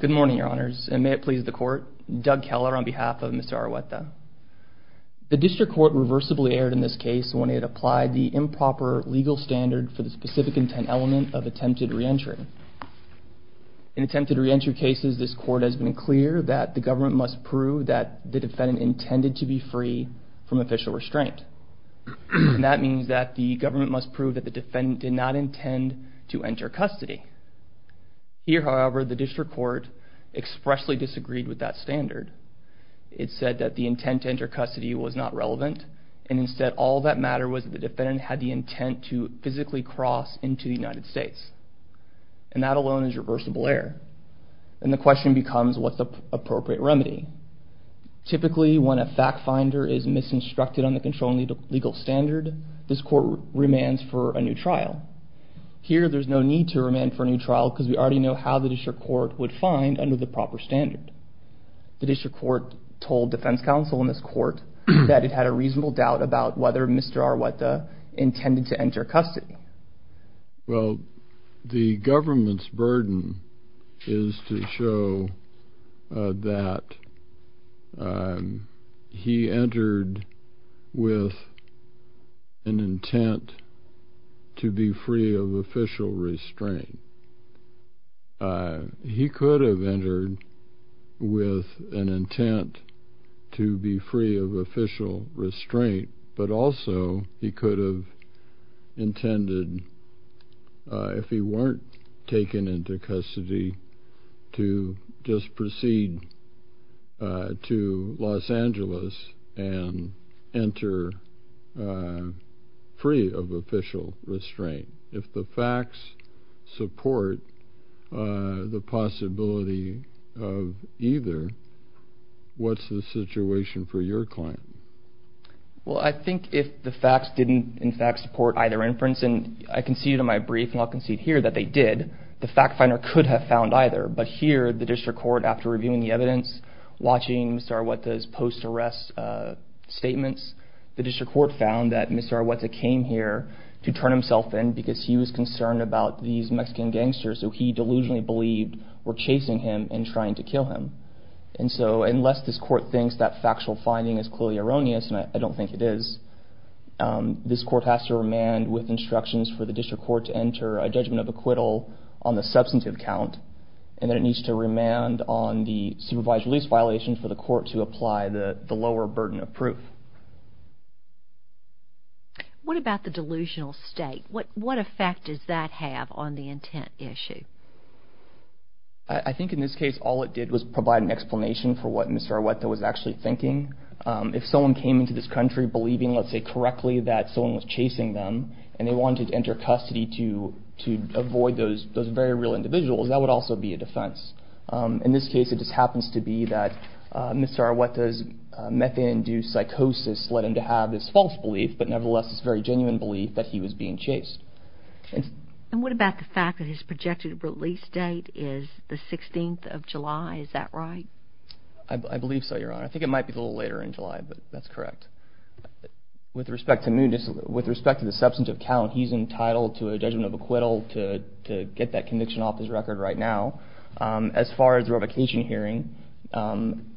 Good morning, Your Honors, and may it please the Court, Doug Keller on behalf of Mr. Argueta. The District Court reversibly erred in this case when it applied the improper legal standard for the specific intent element of attempted re-entry. In attempted re-entry cases, this Court has been clear that the government must prove that the defendant intended to be free from official restraint. That means that the government must prove that the defendant did not intend to enter custody. Here, however, the District Court expressly disagreed with that standard. It said that the intent to enter custody was not relevant, and instead all that mattered was that the defendant had the intent to physically cross into the United States. And that alone is reversible error. And the question becomes, what's the appropriate remedy? Typically, when a fact finder is misinstructed on the controlling legal standard, this Court remands for a new trial. Here, there's no need to remand for a new trial because we already know how the District Court would find under the proper standard. The District Court told Defense Counsel in this Court that it had a reasonable doubt about whether Mr. Argueta intended to enter custody. Well, the government's burden is to show that he entered with an intent to be free of official restraint. He could have entered with an intent to be free of official restraint, but also he could have intended, if he weren't taken into custody, to just proceed to Los Angeles and enter free of official restraint. If the facts support the possibility of either, what's the situation for your client? Well, I think if the facts didn't, in fact, support either inference, and I conceded in my brief, and I'll concede here that they did, the fact finder could have found either. But here, the District Court, after reviewing the evidence, watching Mr. Argueta's post arrest statements, the District Court found that Mr. Argueta came here to turn himself in because he was concerned about these Mexican gangsters who he delusionally believed were gangsters. So, the District Court thinks that factual finding is clearly erroneous, and I don't think it is. This Court has to remand with instructions for the District Court to enter a judgment of acquittal on the substantive count, and then it needs to remand on the supervised release violation for the Court to apply the lower burden of proof. What about the delusional state? What effect does that have on the intent issue? I think in this case, all it did was provide an explanation for what Mr. Argueta was actually thinking. If someone came into this country believing, let's say, correctly that someone was chasing them, and they wanted to enter custody to avoid those very real individuals, that would also be a defense. In this case, it just happens to be that Mr. Argueta's methane-induced psychosis led him to have this false belief, but nevertheless this very genuine belief that he was being chased. And what about the fact that his projected release date is the 16th of July? Is that right? I believe so, Your Honor. I think it might be a little later in July, but that's correct. With respect to the substantive count, he's entitled to a judgment of acquittal to get that conviction off his record right now. As far as revocation hearing,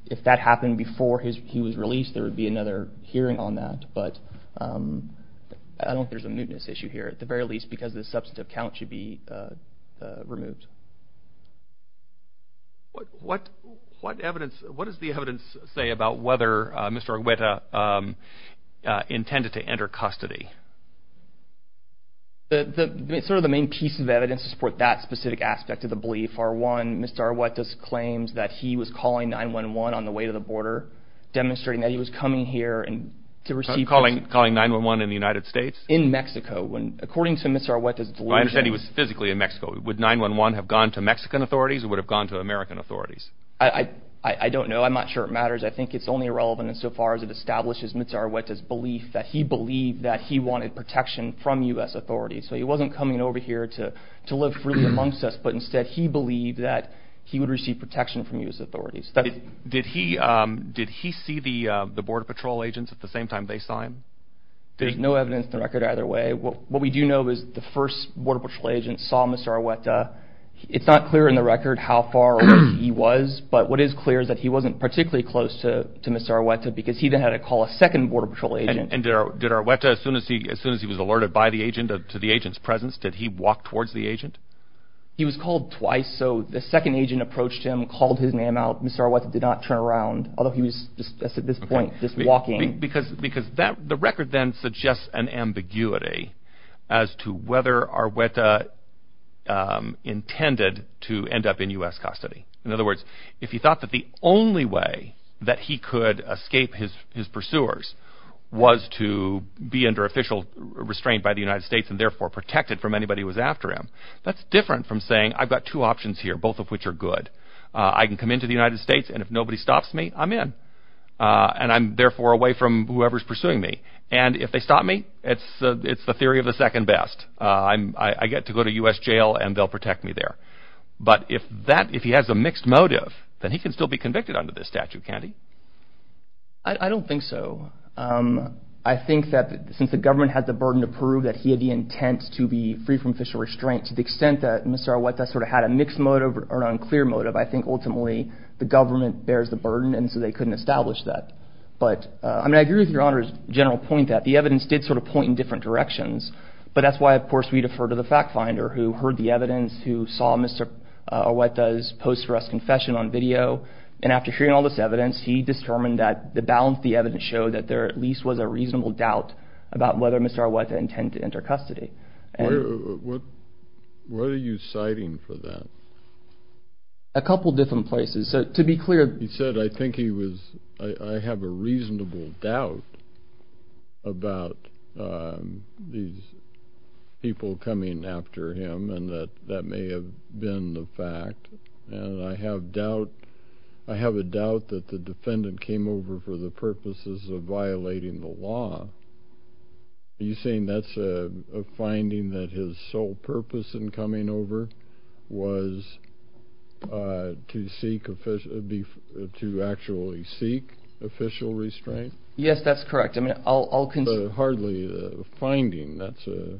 if that happened before he was released, there would be another hearing on that, but I don't think there's a prior release because the substantive count should be removed. What does the evidence say about whether Mr. Argueta intended to enter custody? The main piece of evidence to support that specific aspect of the belief are, one, Mr. Argueta's claims that he was calling 911 on the way to the border, demonstrating that he was coming here to receive... Calling 911 in the United States? In Mexico. According to Mr. Argueta's delusion... I understand he was physically in Mexico. Would 911 have gone to Mexican authorities or would have gone to American authorities? I don't know. I'm not sure it matters. I think it's only relevant insofar as it establishes Mr. Argueta's belief that he believed that he wanted protection from U.S. authorities. So he wasn't coming over here to live freely amongst us, but instead he believed that he would receive protection from U.S. authorities. Did he see the Border Patrol agents at the same time they saw him? There's no evidence in the record either way. What we do know is the first Border Patrol agent saw Mr. Argueta. It's not clear in the record how far away he was, but what is clear is that he wasn't particularly close to Mr. Argueta because he then had to call a second Border Patrol agent. And did Argueta, as soon as he was alerted by the agent, to the agent's presence, did he walk towards the agent? He was called twice, so the second agent approached him, called his name out. Mr. Argueta did not turn around, although he was just at this point just walking. Because the record then suggests an ambiguity as to whether Argueta intended to end up in U.S. custody. In other words, if he thought that the only way that he could escape his pursuers was to be under official restraint by the United States and therefore protected from anybody who was after him, that's different from saying, I've got two options here, both of which are good. I can come into the United States and if nobody stops me, I'm in. And I'm therefore away from whoever is pursuing me. And if they stop me, it's the theory of the second best. I get to go to U.S. jail and they'll protect me there. But if that, if he has a mixed motive, then he can still be convicted under this statute, can't he? I don't think so. I think that since the government had the burden to prove that he had the intent to be free from official restraint, to the extent that Mr. Argueta sort of had a mixed motive or an unclear motive, I think ultimately the government bears the burden and so they But I mean, I agree with your Honor's general point that the evidence did sort of point in different directions. But that's why, of course, we defer to the fact finder who heard the evidence, who saw Mr. Argueta's post-arrest confession on video. And after hearing all this evidence, he determined that the balance of the evidence showed that there at least was a reasonable doubt about whether Mr. Argueta intended to enter custody. What are you citing for that? A couple of different places. So to be clear, he said, I think he was, I have a reasonable doubt about these people coming after him and that that may have been the fact. And I have doubt, I have a doubt that the defendant came over for the purposes of violating the law. Are you saying that's a finding that his sole purpose in coming over was to seek, to actually seek official restraint? Yes, that's correct. I mean, I'll concede. But hardly a finding. That's a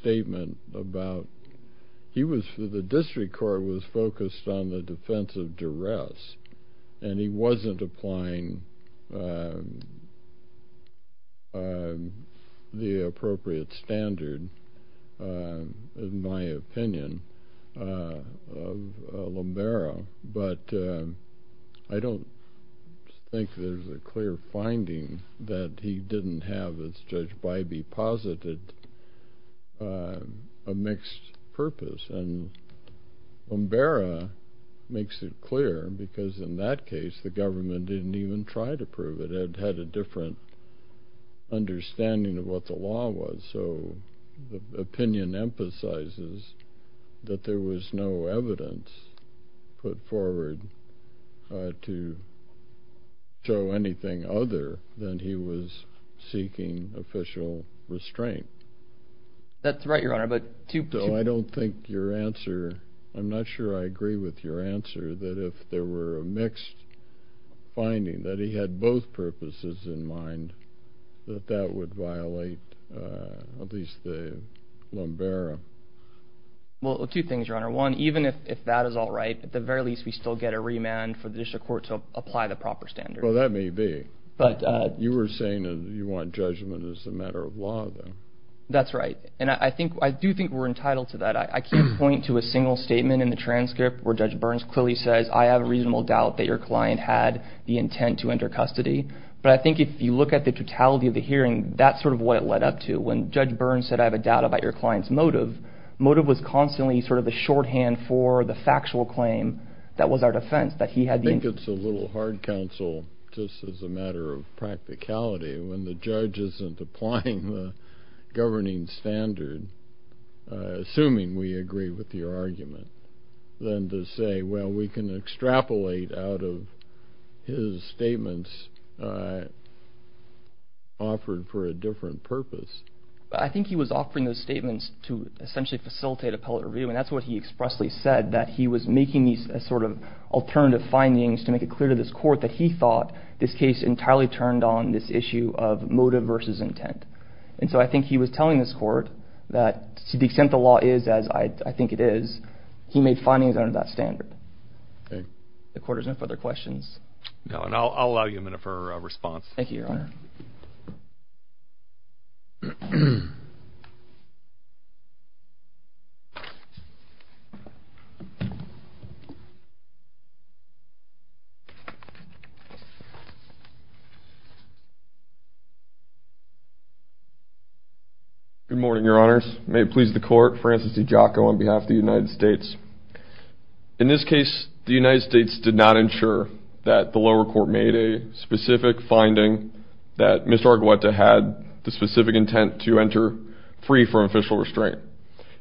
statement about, he was, the district court was focused on the defense of duress. And he wasn't applying the appropriate standard, in my opinion, of Lombero. But I don't think there's a clear finding that he didn't have, as Judge Bybee posited, a mixed purpose. And Lombero makes it clear because in that case, the government didn't even try to prove it. It had a different understanding of what the law was. So the opinion emphasizes that there was no evidence put forward to show anything other than he was seeking official restraint. That's right, Your Honor, but two people... So I don't think your answer, I'm not sure I agree with your answer that if there were a mixed finding that he had both purposes in mind, that that would violate at least the Lombero. Well, two things, Your Honor. One, even if that is all right, at the very least, we still get a remand for the district court to apply the proper standard. Well, that may be. But you were saying that you want judgment as a matter of law, then? That's right. And I do think we're entitled to that. I can't point to a single statement in the transcript where Judge Burns clearly says, I have a reasonable doubt that your client had the intent to enter custody. But I think if you look at the totality of the hearing, that's sort of what it led up to. When Judge Burns said, I have a doubt about your client's motive, motive was constantly sort of the shorthand for the matter of practicality. When the judge isn't applying the governing standard, assuming we agree with your argument, then to say, well, we can extrapolate out of his statements offered for a different purpose. I think he was offering those statements to essentially facilitate appellate review. And that's what he expressly said, that he was making these sort of alternative findings to make it clear to this court that he thought this case entirely turned on this issue of motive versus intent. And so I think he was telling this court that to the extent the law is as I think it is, he made findings under that standard. The court has no further questions. No, and I'll allow you to close. Good morning, your honors. May it please the court, Francis DiGiacco on behalf of the United States. In this case, the United States did not ensure that the lower court made a specific finding that Mr. Arguetta had the specific intent to enter free from official restraint.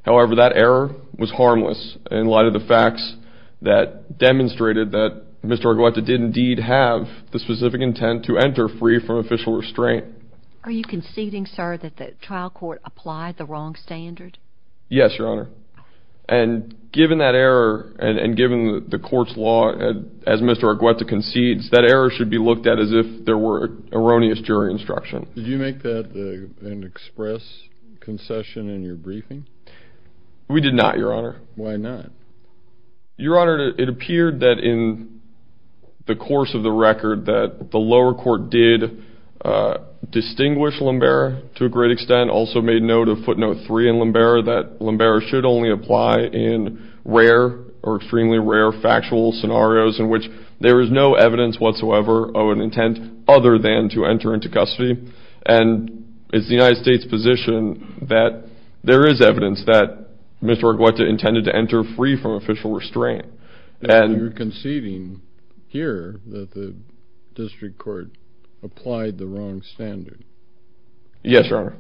However, that error was harmless in light of the fact that Mr. Arguetta did indeed have the specific intent to enter free from official restraint. Are you conceding, sir, that the trial court applied the wrong standard? Yes, your honor. And given that error, and given the court's law as Mr. Arguetta concedes, that error should be looked at as if there were erroneous jury instruction. Did you make that an express concession in your briefing? We did not, your honor. Why not? Your honor, I think that the court, the course of the record that the lower court did distinguish Lumbera to a great extent, also made note of footnote three in Lumbera that Lumbera should only apply in rare or extremely rare factual scenarios in which there is no evidence whatsoever of an intent other than to enter into custody. And it's the United States position that there is evidence that Mr. Arguetta intended to enter free from official restraint. And you're conceding here that the district court applied the wrong standard. Yes, your honor.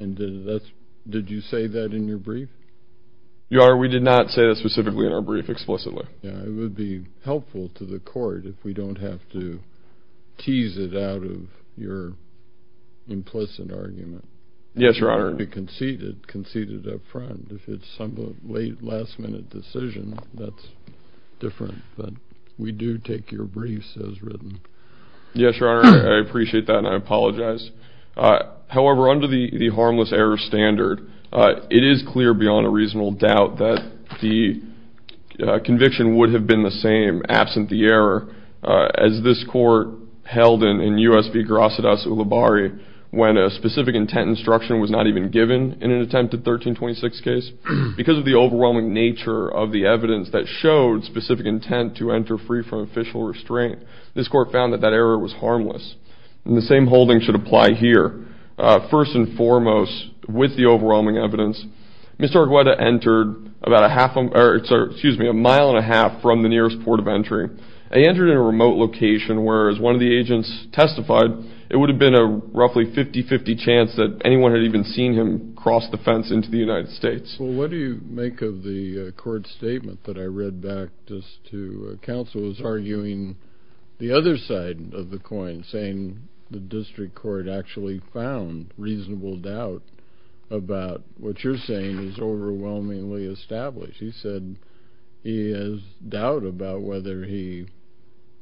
And did you say that in your brief? Your honor, we did not say that specifically in our brief explicitly. Yeah, it would be helpful to the court if we don't have to tease it out of your implicit argument. Yes, your honor. To concede it, concede it up front. If it's some late, last minute decision, that's different. But we do take your briefs as written. Yes, your honor. I appreciate that. And I apologize. However, under the harmless error standard, it is clear beyond a reasonable doubt that the conviction would have been the same absent the error as this court held in U.S. v. Garacidas Ulibarri when a specific intent instruction was not even given in an attempted 1326 case. Because of the overwhelming nature of the evidence that showed specific intent to enter free from official restraint, this court found that that error was harmless. And the same holding should apply here. First and foremost, with the overwhelming evidence, Mr. Arguetta entered about a mile and a half from the nearest port of entry. He entered in a remote location where, as one of the agents testified, it would have been a roughly 50-50 chance that anyone had even seen him cross the fence into the United States. Well, what do you make of the court statement that I read back just to counsel who's arguing the other side of the coin, saying the district court actually found reasonable doubt about what you're saying is overwhelmingly established. He said he has doubt about whether he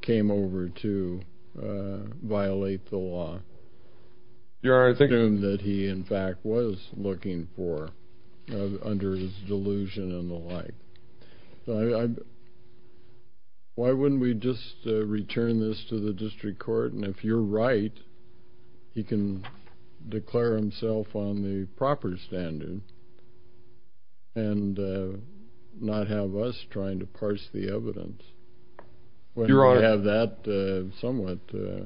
came over to violate the law. Your honor, I think I assume that he, in fact, was looking for, under his delusion and the like. Why wouldn't we just return this to the district court, and if you're right, he can declare himself on the proper standard and not have us trying to parse the evidence when we have that somewhat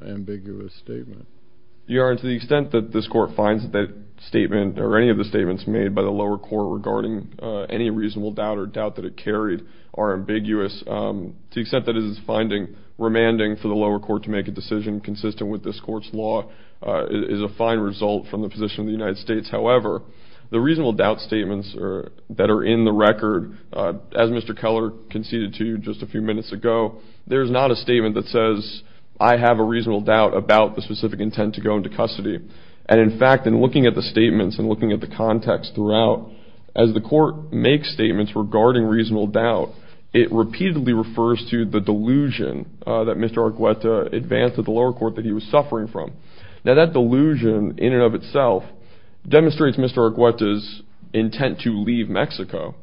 ambiguous statement. Your honor, to the extent that this court finds that statement, or any of the statements made by the lower court regarding any reasonable doubt or doubt that it carried are ambiguous, to the extent that it is finding remanding for the lower court to make a decision consistent with this court's law is a fine result from the position of the United States. However, the reasonable doubt statements that are in the record, as Mr. Keller conceded to you just a few minutes ago, there's not a statement that says, I have a reasonable doubt about the specific intent to go into custody. And, in fact, in looking at the statements and looking at the context throughout, as the court makes statements regarding reasonable doubt, it repeatedly refers to the delusion that Mr. Arguetta advanced at the intent to leave Mexico,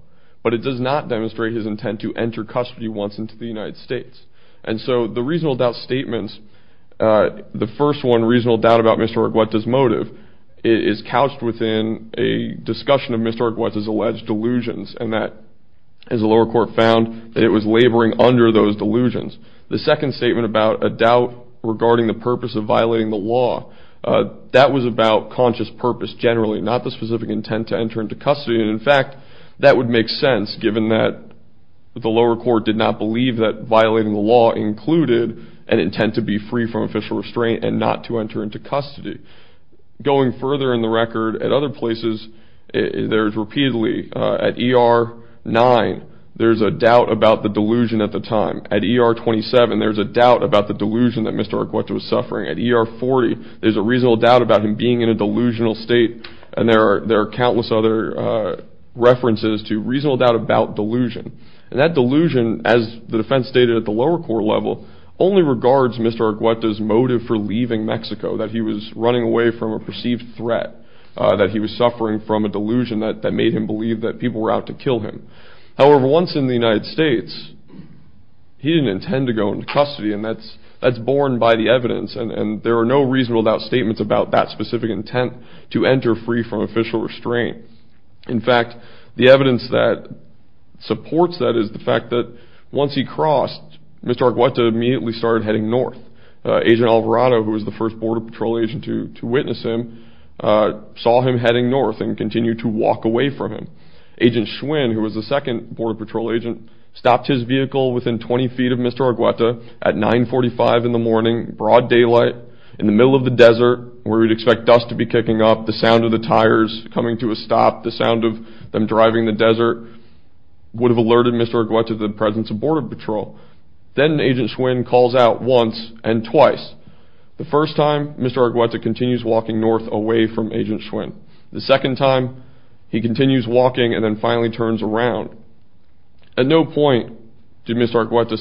but it does not demonstrate his intent to enter custody once into the United States. And so the reasonable doubt statements, the first one, reasonable doubt about Mr. Arguetta's motive, is couched within a discussion of Mr. Arguetta's alleged delusions, and that, as the lower court found, that it was laboring under those delusions. The second statement about a doubt regarding the purpose of Mr. Arguetta's intent to enter custody, and, in fact, that would make sense given that the lower court did not believe that violating the law included an intent to be free from official restraint and not to enter into custody. Going further in the record, at other places, there's repeatedly, at E.R. 9, there's a doubt about the delusion at the time. At E.R. 27, there's a doubt about the delusion that Mr. Arguetta was suffering. At E.R. 40, there's a reasonable doubt about him being in a delusional state, and there are countless other references to reasonable doubt about delusion. And that delusion, as the defense stated at the lower court level, only regards Mr. Arguetta's motive for leaving Mexico, that he was running away from a perceived threat, that he was suffering from a delusion that made him believe that people were out to kill him. However, once in the United States, he didn't have any reasonable doubt statements about that specific intent to enter free from official restraint. In fact, the evidence that supports that is the fact that once he crossed, Mr. Arguetta immediately started heading north. Agent Alvarado, who was the first Border Patrol agent to witness him, saw him heading north and continued to walk away from him. Agent Schwinn, who was the second Border Patrol agent, stopped his vehicle within 20 feet of Mr. Arguetta at 945 in the morning, broad daylight, in the middle of the desert, where we'd expect dust to be kicking up, the sound of the tires coming to a stop, the sound of them driving in the desert, would have alerted Mr. Arguetta to the presence of Border Patrol. Then Agent Schwinn calls out once and twice. The first time, Mr. Arguetta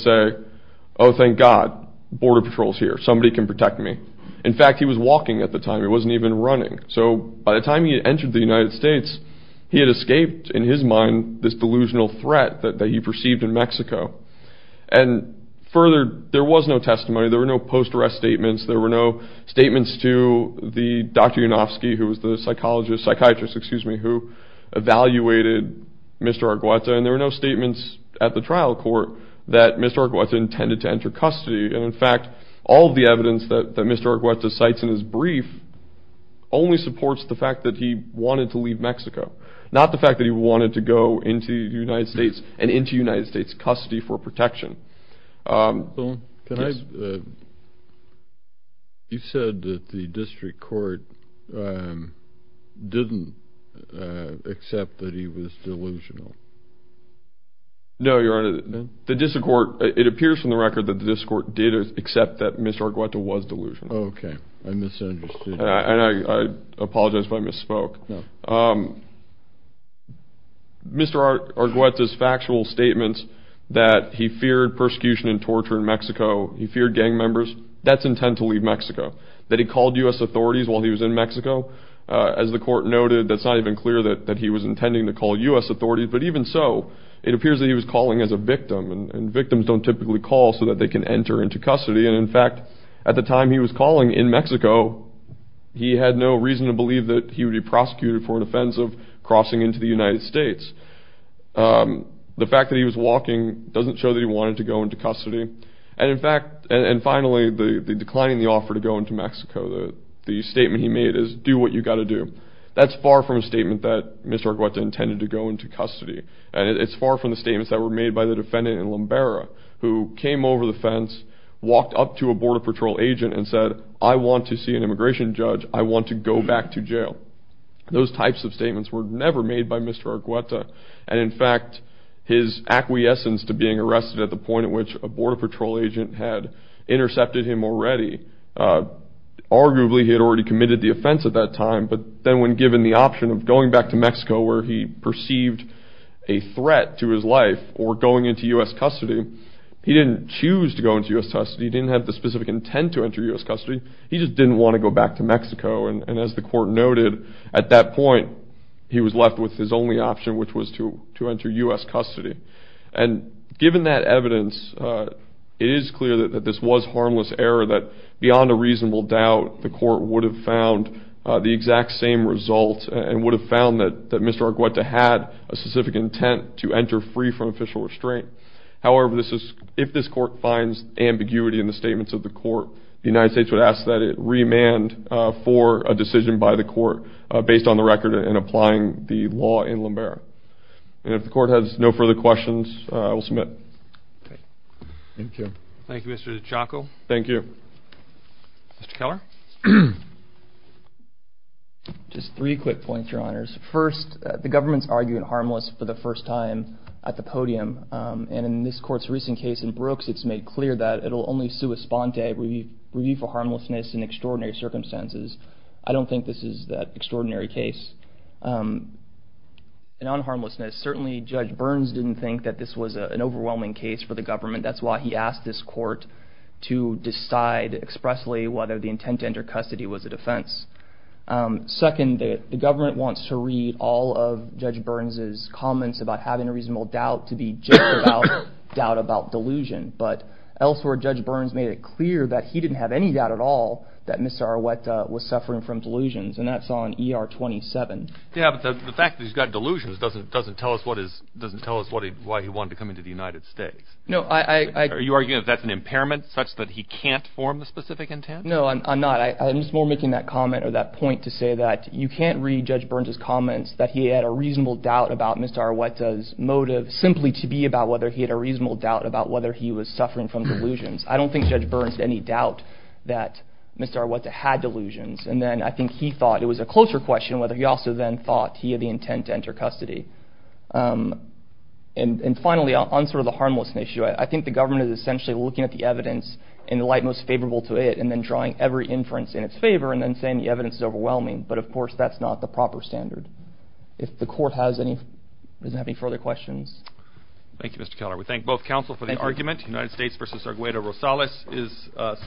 said, oh, thank God, Border Patrol's here. Somebody can protect me. In fact, he was walking at the time. He wasn't even running. So by the time he entered the United States, he had escaped, in his mind, this delusional threat that he perceived in Mexico. And further, there was no testimony. There were no post-arrest statements. There were no evaluated Mr. Arguetta, and there were no statements at the trial court that Mr. Arguetta intended to enter custody. And in fact, all of the evidence that Mr. Arguetta cites in his brief only supports the fact that he wanted to leave Mexico, not the fact that he wanted to go into the United States and into United States custody for protection. You said that the district court didn't accept that he was delusional. No, Your Honor, the district court, it appears from the record that the district court did accept that Mr. Arguetta was delusional. Okay, I misunderstood. And I apologize if I misspoke. Mr. Arguetta's factual statements that he feared persecution and torture in Mexico, he feared gang members, that's intent to leave Mexico. That he called U.S. authorities while he was in Mexico, as the court noted, that's not even clear that he was intending to call U.S. authorities. But even so, it appears that he was calling as a victim, and victims don't typically call so that they can enter into custody. And in fact, at the time he was calling in Mexico, he had no reason to believe that he would be prosecuted for an offense of crossing into the United States. The fact that he was walking doesn't show that he wanted to go into custody. And in fact, and finally, the declining offer to go into Mexico, the statement he made is, do what you gotta do. That's far from a statement that Mr. Arguetta intended to go into custody. And it's far from the statements that were made by the defendant in Lumbera, who came over the fence, walked up to a border patrol agent and said, I want to see an immigration judge. I want to go back to jail. Those types of statements were never made by Mr. Arguetta. And in fact, his acquiescence to being arrested at the point at which a border patrol agent had intercepted him already, arguably he had already committed the offense at that time. But then when given the option of going back to Mexico, where he perceived a threat to his life, or going into U.S. custody, he didn't choose to go into U.S. custody. He didn't have the specific intent to enter U.S. custody. He just didn't want to go back to Mexico. And as the court noted, at that point, he was left with his only option, which was to enter U.S. custody. And given that evidence, it is clear that this was harmless error, that beyond a reasonable doubt, the court would have found the exact same result and would have found that Mr. Arguetta had a specific intent to enter free from official restraint. However, if this court finds ambiguity in the statements of the court, the United States would ask that it remand for a decision by the court based on the record in applying the law in Lumbera. And if the court has no further questions, I will submit. Thank you. Thank you, Mr. DiCiocco. Thank you. Mr. Keller? Just three quick points, Your Honors. First, the government's arguing harmless for the first time at the podium. And in this court's recent case in Brooks, it's made clear that it'll only sue a sponte review for harmlessness in extraordinary circumstances. I don't think this is that extraordinary case. And on harmlessness, certainly Judge Burns didn't think that this was an overwhelming case for the government. That's why he asked this court to decide expressly whether the intent to enter custody was a defense. Second, the government wants to read all of Judge Burns' comments about having a reasonable doubt to be just about doubt about delusion. But elsewhere, Judge Burns made it clear that he didn't have any doubt at all that Mr. Arguetta was suffering from delusions. And that's on ER 27. Yeah, but the fact that he's got delusions doesn't tell us why he wanted to come into the United States. No, I... Are you arguing that that's an impairment such that he can't form a specific intent? No, I'm not. I'm just more making that comment or that point to say that you can't read Judge Burns' comments that he had a reasonable doubt about Mr. Arguetta's motive simply to be about whether he had a reasonable doubt about whether he was suffering from delusions. I don't think Judge Burns had any doubt that Mr. Arguetta had delusions. And then I think he thought it was a closer question whether he also then thought he had the intent to enter custody. And finally, on sort of the harmlessness issue, I think the government is essentially looking at the evidence in the light most favorable to it and then drawing every inference in its favor and then saying the evidence is overwhelming. But of course, that's not the proper standard. If the court has any... Does it have any further questions? Thank you, Mr. Keller. We thank both counsel for the argument. United States v. Arguetta Rosales is subpoenaed.